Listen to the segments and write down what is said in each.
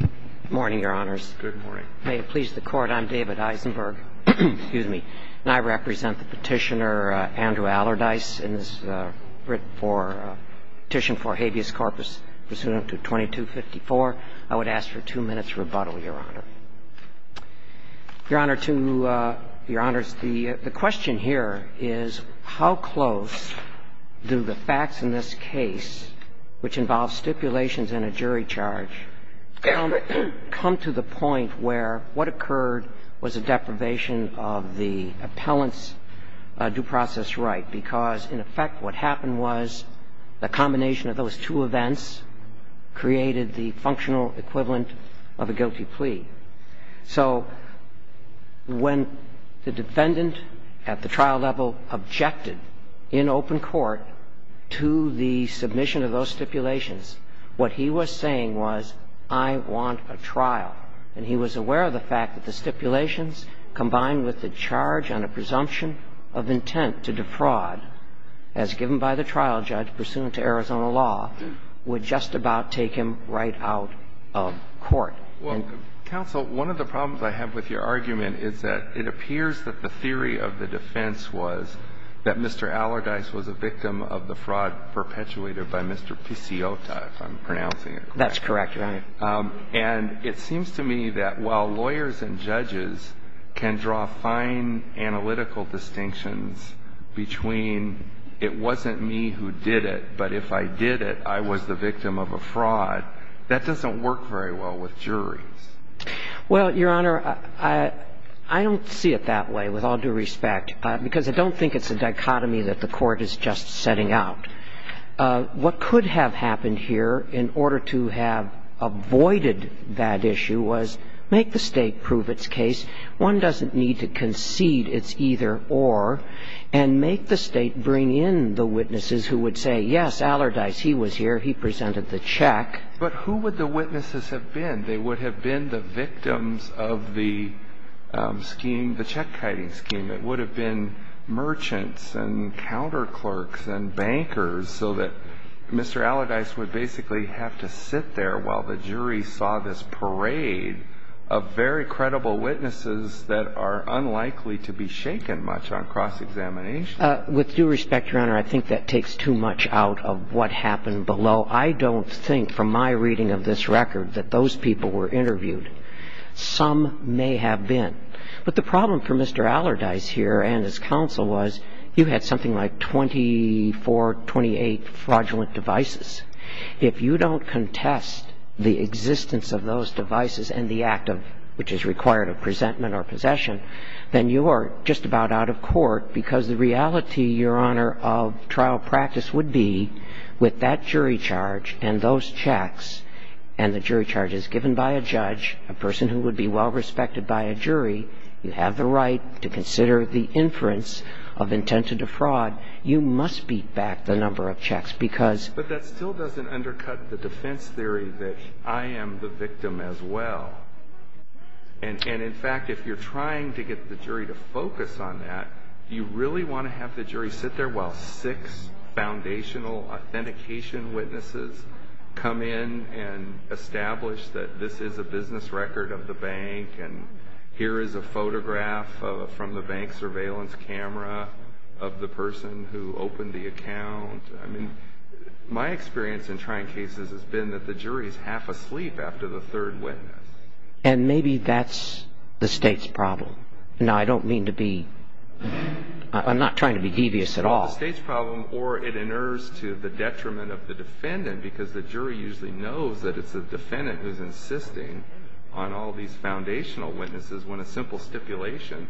Good morning, Your Honors. May it please the Court, I'm David Eisenberg, excuse me, and I represent the petitioner Andrew Allerdice and this is a petition for habeas corpus pursuant to 2254. I would ask for two minutes rebuttal, Your Honor. Your Honor, the question here is how close do the facts in this case, which involves stipulations and a jury charge, come to the point where what occurred was a deprivation of the appellant's due process right? Because, in effect, what happened was a combination of those two events created the functional equivalent of a guilty plea. So when the defendant at the trial level objected in open court to the submission of those stipulations, what he was saying was, I want a trial. And he was aware of the fact that the stipulations combined with the charge on a presumption of intent to defraud, as given by the trial judge pursuant to Arizona law, would just about take him right out of court. Counsel, one of the problems I have with your argument is that it appears that the theory of the defense was that Mr. Allerdice was a victim of the fraud perpetuated by Mr. Pisciotta, if I'm pronouncing it correctly. That's correct, Your Honor. And it seems to me that while lawyers and judges can draw fine analytical distinctions between it wasn't me who did it, but if I did it, I was the victim of a fraud, that doesn't work very well with juries. Well, Your Honor, I don't see it that way, with all due respect, because I don't think it's a dichotomy that the Court is just setting out. What could have happened here, in order to have avoided that issue, was make the State prove its case. One doesn't need to concede it's either-or. And make the State bring in the witnesses who would say, yes, Allerdice, he was here, he presented the check. But who would the witnesses have been? They would have been the victims of the scheme, the check-kiting scheme. It would have been merchants and counterclerks and bankers, so that Mr. Allerdice would basically have to sit there while the jury saw this parade of very credible witnesses that are unlikely to be shaken much on cross-examination. With due respect, Your Honor, I think that takes too much out of what happened below. I don't think, from my reading of this record, that those people were interviewed. Some may have been. But the problem for Mr. Allerdice here and his counsel was, you had something like 24, 28 fraudulent devices. If you don't contest the existence of those devices and the act of which is required of presentment or possession, then you are just about out of court, because the reality, Your Honor, of trial practice would be with that jury charge and those checks and the jury charges given by a judge, a person who would be well respected by a jury, you have the right to consider the inference of intent to defraud, you must beat back the number of checks, because But that still doesn't undercut the defense theory that I am the victim as well. And in fact, if you're trying to get the jury to focus on that, you really want to have the jury sit there while six foundational authentication witnesses come in and establish that this is a business record of the bank and here is a photograph from the bank surveillance camera of the person who opened the account. My experience in trying cases has been that the jury is half asleep after the third witness. And maybe that's the State's problem. Now, I don't mean to be – I'm not trying to be devious at all. It's not the State's problem, or it inerrs to the detriment of the defendant, because the jury usually knows that it's the defendant who's insisting on all these foundational witnesses when a simple stipulation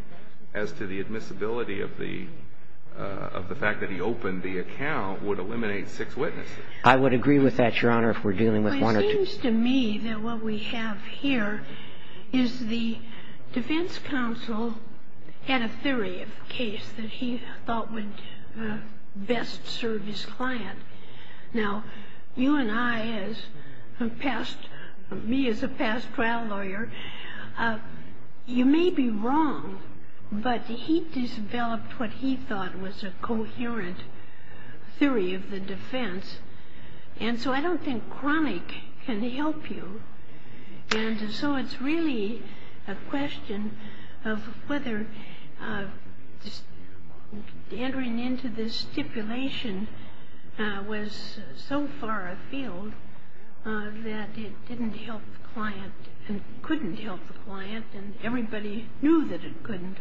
as to the admissibility of the fact that he opened the account would eliminate six witnesses. I would agree with that, Your Honor, if we're dealing with one or two. It seems to me that what we have here is the defense counsel had a theory of a case that he thought would best serve his client. Now, you and I, me as a past trial lawyer, you may be wrong, but he developed what he thought was a coherent theory of the defense. And so I don't think chronic can help you. And so it's really a question of whether entering into this stipulation was so far afield that it didn't help the client and couldn't help the client, and everybody knew that it couldn't.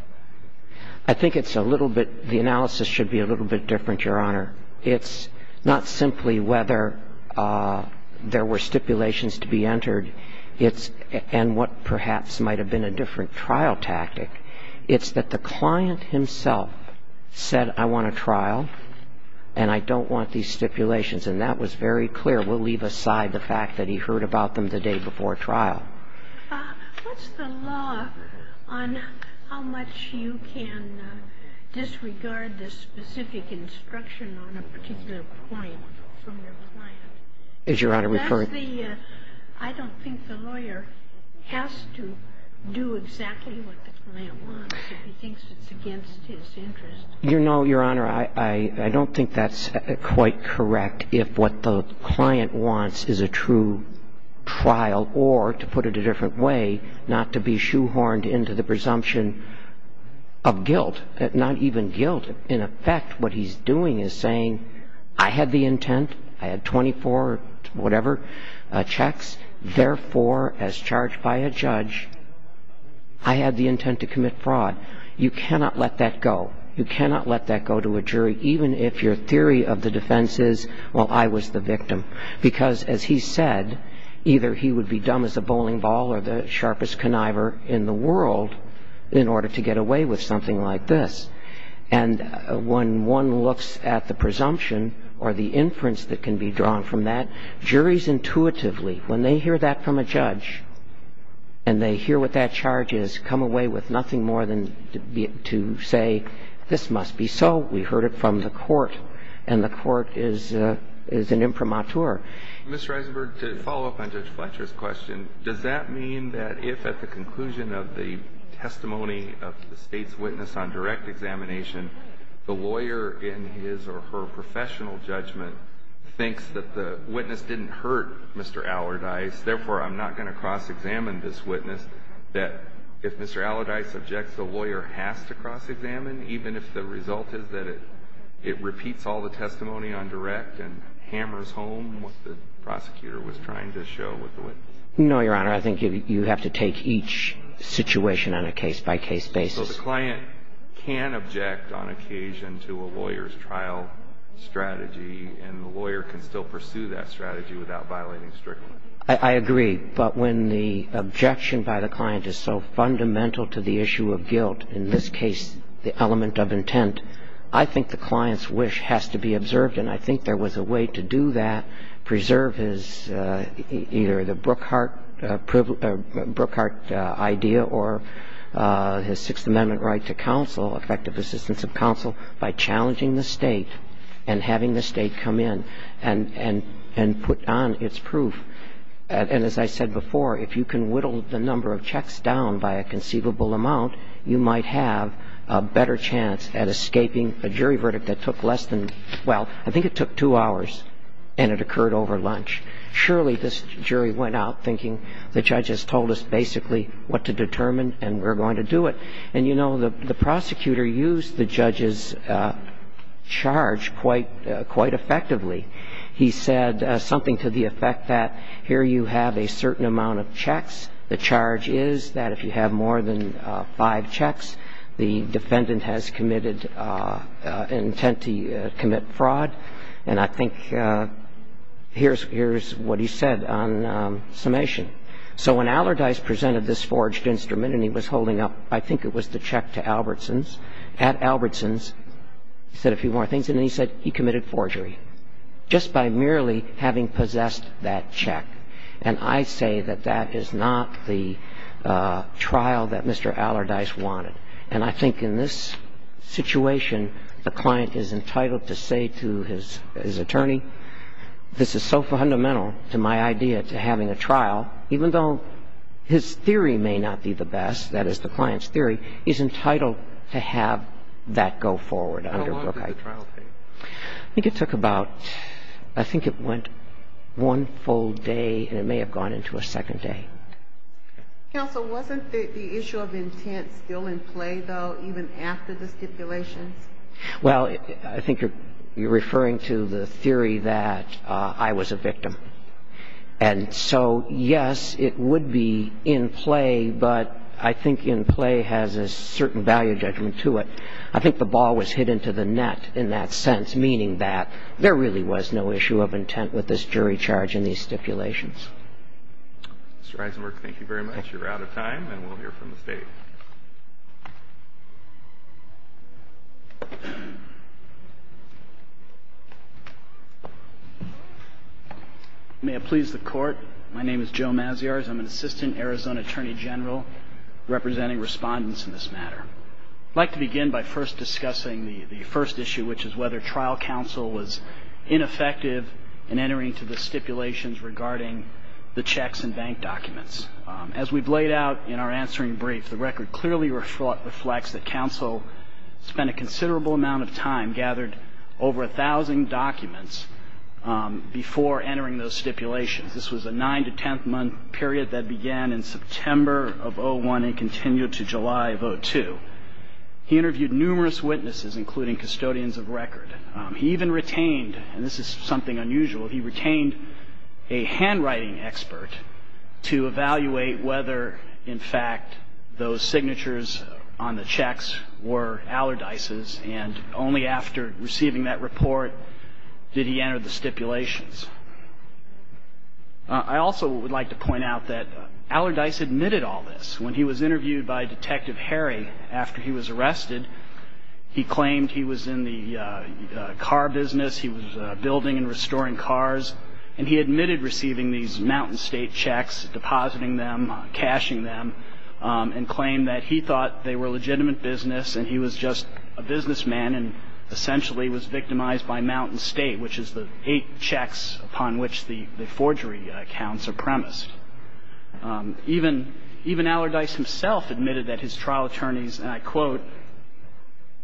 I think it's a little bit – the analysis should be a little bit different, Your Honor. It's not simply whether there were stipulations to be entered and what perhaps might have been a different trial tactic. It's that the client himself said, I want a trial, and I don't want these stipulations. And that was very clear. We'll leave aside the fact that he heard about them the day before trial. What's the law on how much you can disregard the specific instruction on a particular point from your client? Is Your Honor referring to the – I don't think the lawyer has to do exactly what the client wants if he thinks it's against his interest. No, Your Honor. Your Honor, I don't think that's quite correct if what the client wants is a true trial or, to put it a different way, not to be shoehorned into the presumption of guilt, not even guilt. In effect, what he's doing is saying, I had the intent, I had 24 whatever checks, therefore, as charged by a judge, I had the intent to commit fraud. You cannot let that go. You cannot let that go to a jury, even if your theory of the defense is, well, I was the victim. Because, as he said, either he would be dumb as a bowling ball or the sharpest conniver in the world in order to get away with something like this. And when one looks at the presumption or the inference that can be drawn from that, juries intuitively, when they hear that from a judge and they hear what that charge is, they come away with nothing more than to say, this must be so. We heard it from the court, and the court is an imprimatur. Mr. Eisenberg, to follow up on Judge Fletcher's question, does that mean that if at the conclusion of the testimony of the State's witness on direct examination, the lawyer in his or her professional judgment thinks that the witness didn't hurt Mr. Allardyce, therefore, I'm not going to cross-examine this witness, that if Mr. Allardyce objects, the lawyer has to cross-examine, even if the result is that it repeats all the testimony on direct and hammers home what the prosecutor was trying to show with the witness? No, Your Honor. I think you have to take each situation on a case-by-case basis. So the client can object on occasion to a lawyer's trial strategy, and the lawyer can still pursue that strategy without violating the strict law. I agree. But when the objection by the client is so fundamental to the issue of guilt, in this case, the element of intent, I think the client's wish has to be observed, and I think there was a way to do that, preserve his, either the Brookhart idea or his Sixth Amendment right to counsel, effective assistance of counsel, by challenging the State and having the State come in and put on its proof. And as I said before, if you can whittle the number of checks down by a conceivable amount, you might have a better chance at escaping a jury verdict that took less than, well, I think it took two hours, and it occurred over lunch. Surely this jury went out thinking the judge has told us basically what to determine and we're going to do it. And, you know, the prosecutor used the judge's charge quite effectively. He said something to the effect that here you have a certain amount of checks. The charge is that if you have more than five checks, the defendant has committed intent to commit fraud. And I think here's what he said on summation. So when Allardyce presented this forged instrument, and he was holding up, I think it was the check to Albertson's. At Albertson's, he said a few more things, and then he said he committed forgery just by merely having possessed that check. And I say that that is not the trial that Mr. Allardyce wanted. And I think in this situation, the client is entitled to say to his attorney, this is so fundamental to my idea to having a trial, even though his theory may not be the best, that is the client's theory, is entitled to have that go forward. How long did the trial take? I think it took about one full day, and it may have gone into a second day. Counsel, wasn't the issue of intent still in play, though, even after the stipulations? Well, I think you're referring to the theory that I was a victim. And so, yes, it would be in play, but I think in play has a certain value judgment to it. I think the ball was hit into the net in that sense, meaning that there really was no issue of intent with this jury charge in these stipulations. Mr. Eisenberg, thank you very much. You're out of time, and we'll hear from the State. May it please the Court. My name is Joe Maziarz. I'm an Assistant Arizona Attorney General representing respondents in this matter. I'd like to begin by first discussing the first issue, which is whether trial counsel was ineffective in entering into the stipulations regarding the checks and bank documents. As we've laid out in our answering brief, the record clearly reflects that counsel spent a considerable amount of time, gathered over a thousand documents, before entering those stipulations. This was a nine- to ten-month period that began in September of 2001 and continued to July of 2002. He interviewed numerous witnesses, including custodians of record. He even retained, and this is something unusual, he retained a handwriting expert to evaluate whether, in fact, those signatures on the checks were Allardyce's, and only after receiving that report did he enter the stipulations. I also would like to point out that Allardyce admitted all this. When he was interviewed by Detective Harry after he was arrested, he claimed he was in the car business, he was building and restoring cars, and he admitted receiving these Mountain State checks, depositing them, cashing them, and claimed that he thought they were legitimate business and he was just a businessman and essentially was victimized by Mountain State, which is the eight checks upon which the forgery accounts are premised. Even Allardyce himself admitted that his trial attorneys, and I quote,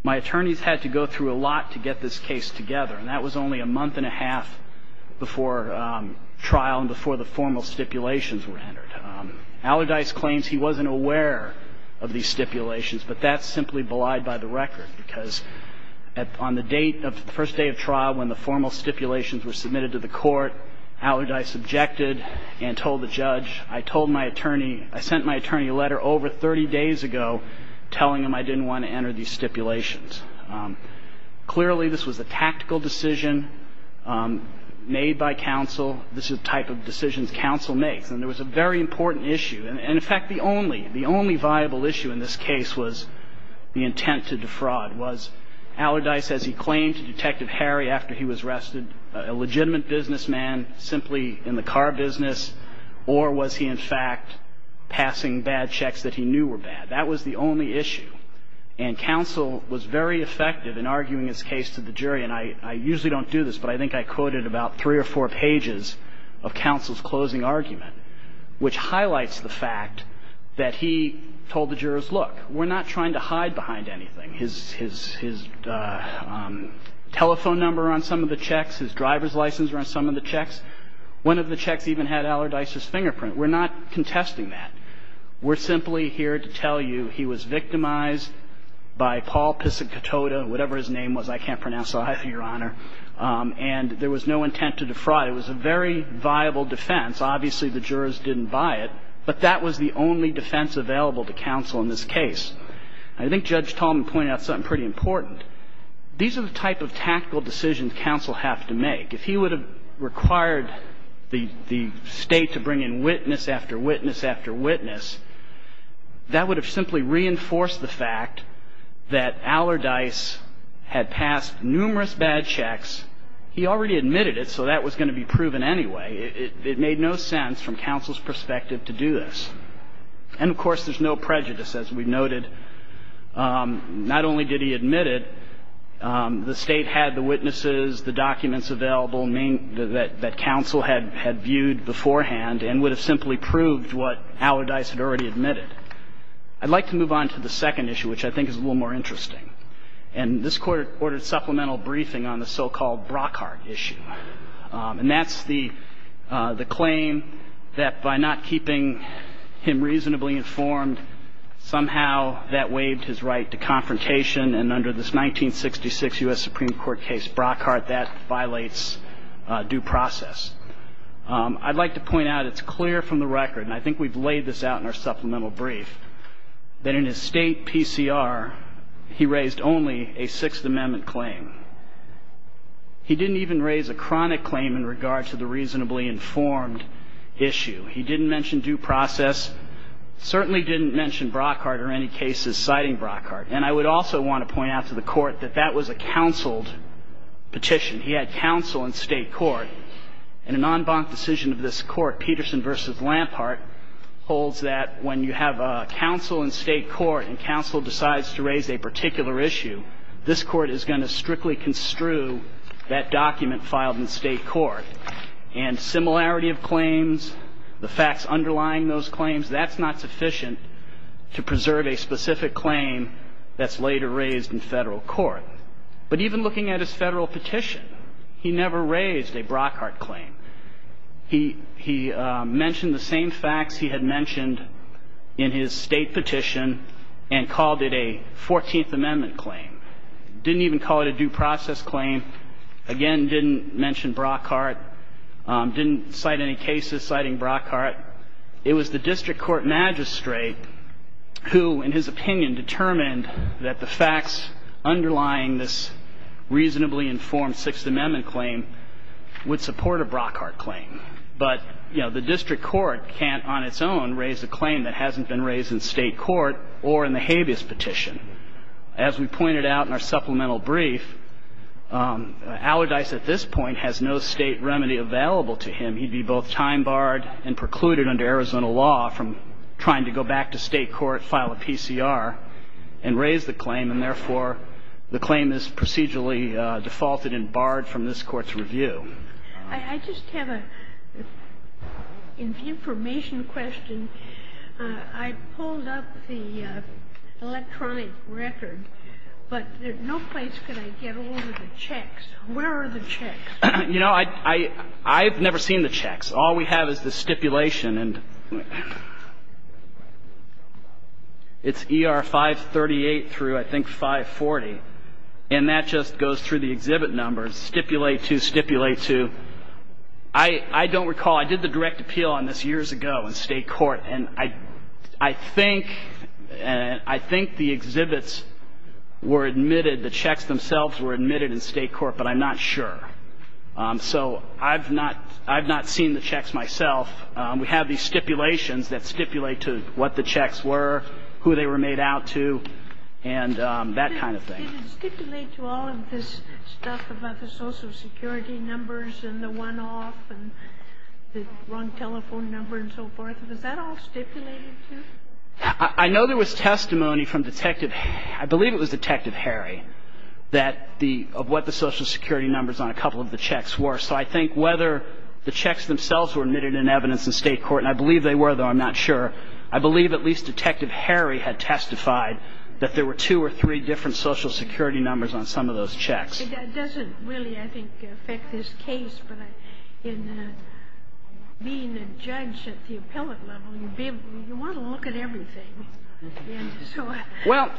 my attorneys had to go through a lot to get this case together. And that was only a month and a half before trial and before the formal stipulations were entered. Allardyce claims he wasn't aware of these stipulations, but that's simply belied by the record because on the date of the first day of trial when the formal stipulations were submitted to the court, Allardyce objected and told the judge, I told my attorney, I sent my attorney a letter over 30 days ago telling him I didn't want to enter these stipulations. Clearly, this was a tactical decision made by counsel. This is the type of decisions counsel makes. And there was a very important issue. And, in fact, the only viable issue in this case was the intent to defraud. Was Allardyce, as he claimed to Detective Harry after he was arrested, a legitimate businessman simply in the car business, or was he, in fact, passing bad checks that he knew were bad? That was the only issue. And counsel was very effective in arguing his case to the jury. And I usually don't do this, but I think I quoted about three or four pages of counsel's closing argument, which highlights the fact that he told the jurors, look, we're not trying to hide behind anything. His telephone number on some of the checks, his driver's license on some of the checks. One of the checks even had Allardyce's fingerprint. We're not contesting that. We're simply here to tell you he was victimized by Paul Piscicottota, whatever his name was. I can't pronounce either, Your Honor. And there was no intent to defraud. It was a very viable defense. Obviously, the jurors didn't buy it, but that was the only defense available to counsel in this case. I think Judge Tallman pointed out something pretty important. These are the type of tactical decisions counsel have to make. If he would have required the State to bring in witness after witness after witness after witness, that would have simply reinforced the fact that Allardyce had passed numerous bad checks. He already admitted it, so that was going to be proven anyway. It made no sense from counsel's perspective to do this. And, of course, there's no prejudice, as we noted. Not only did he admit it, the State had the witnesses, the documents available that counsel had viewed beforehand and would have simply proved what Allardyce had already admitted. I'd like to move on to the second issue, which I think is a little more interesting. And this Court ordered supplemental briefing on the so-called Brockhart issue. And that's the claim that by not keeping him reasonably informed, somehow that waived his right to confrontation. And under this 1966 U.S. Supreme Court case, Brockhart, that violates due process. I'd like to point out it's clear from the record, and I think we've laid this out in our supplemental brief, that in his State PCR, he raised only a Sixth Amendment claim. He didn't even raise a chronic claim in regard to the reasonably informed issue. He didn't mention due process, certainly didn't mention Brockhart or any cases citing Brockhart. And I would also want to point out to the Court that that was a counseled petition. He had counsel in State court. And an en banc decision of this Court, Peterson v. Lampart, holds that when you have counsel in State court and counsel decides to raise a particular issue, this Court is going to strictly construe that document filed in State court. And similarity of claims, the facts underlying those claims, that's not sufficient to preserve a specific claim that's later raised in Federal court. But even looking at his Federal petition, he never raised a Brockhart claim. He mentioned the same facts he had mentioned in his State petition and called it a Fourteenth Amendment claim. Didn't even call it a due process claim. Again, didn't mention Brockhart. Didn't cite any cases citing Brockhart. It was the district court magistrate who, in his opinion, determined that the facts underlying this reasonably informed Sixth Amendment claim would support a Brockhart claim. But, you know, the district court can't on its own raise a claim that hasn't been raised in State court or in the habeas petition. As we pointed out in our supplemental brief, Allardyce at this point has no State remedy available to him. He would be both time barred and precluded under Arizona law from trying to go back to State court, file a PCR, and raise the claim. And therefore, the claim is procedurally defaulted and barred from this Court's review. I just have an information question. I pulled up the electronic record, but no place could I get all of the checks. Where are the checks? You know, I've never seen the checks. All we have is the stipulation. And it's ER 538 through, I think, 540. And that just goes through the exhibit numbers, stipulate to, stipulate to. I don't recall. I did the direct appeal on this years ago in State court. And I think the exhibits were admitted, the checks themselves were admitted in State court, but I'm not sure. So I've not seen the checks myself. We have these stipulations that stipulate to what the checks were, who they were made out to, and that kind of thing. Did it stipulate to all of this stuff about the Social Security numbers and the one-off and the wrong telephone number and so forth? Was that all stipulated to? I know there was testimony from Detective Harry. That the, of what the Social Security numbers on a couple of the checks were. So I think whether the checks themselves were admitted in evidence in State court, and I believe they were, though I'm not sure, I believe at least Detective Harry had testified that there were two or three different Social Security numbers on some of those checks. But that doesn't really, I think, affect this case. But in being a judge at the appellate level, you want to look at everything. Well,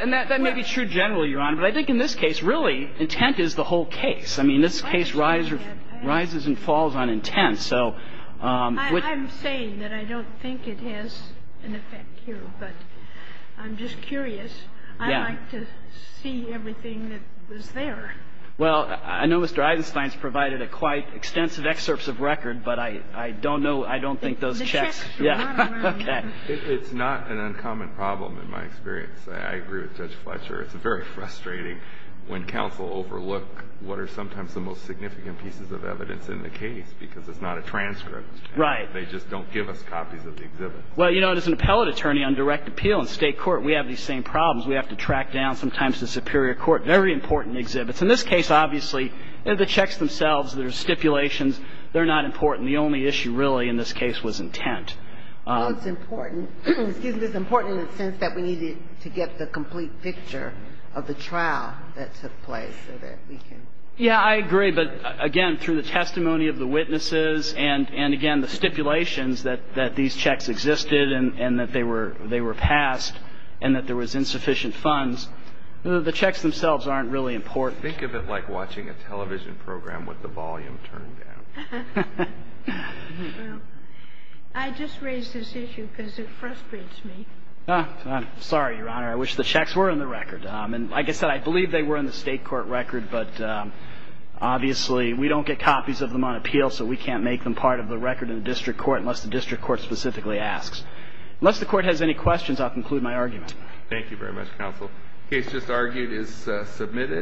and that may be true generally, Your Honor, but I think in this case, really, intent is the whole case. I mean, this case rises and falls on intent. I'm saying that I don't think it has an effect here, but I'm just curious. I'd like to see everything that was there. Well, I know Mr. Eisenstein's provided a quite extensive excerpt of record, but I don't know, I don't think those checks. It's not an uncommon problem in my experience. I agree with Judge Fletcher. It's very frustrating when counsel overlook what are sometimes the most significant pieces of evidence in the case because it's not a transcript. Right. They just don't give us copies of the exhibits. Well, you know, as an appellate attorney on direct appeal in State court, we have these same problems. We have to track down sometimes the superior court. Very important exhibits. In this case, obviously, the checks themselves, there's stipulations. They're not important. The only issue really in this case was intent. Well, it's important. Excuse me. It's important in the sense that we needed to get the complete picture of the trial that took place so that we can. Yeah, I agree. But, again, through the testimony of the witnesses and, again, the stipulations that these checks existed and that they were passed and that there was insufficient funds, the checks themselves aren't really important. Think of it like watching a television program with the volume turned down. Well, I just raised this issue because it frustrates me. Sorry, Your Honor. I wish the checks were in the record. And, like I said, I believe they were in the State court record. But, obviously, we don't get copies of them on appeal, so we can't make them part of the record in the district court unless the district court specifically asks. Unless the court has any questions, I'll conclude my argument. Thank you very much, Counsel. The case just argued is submitted.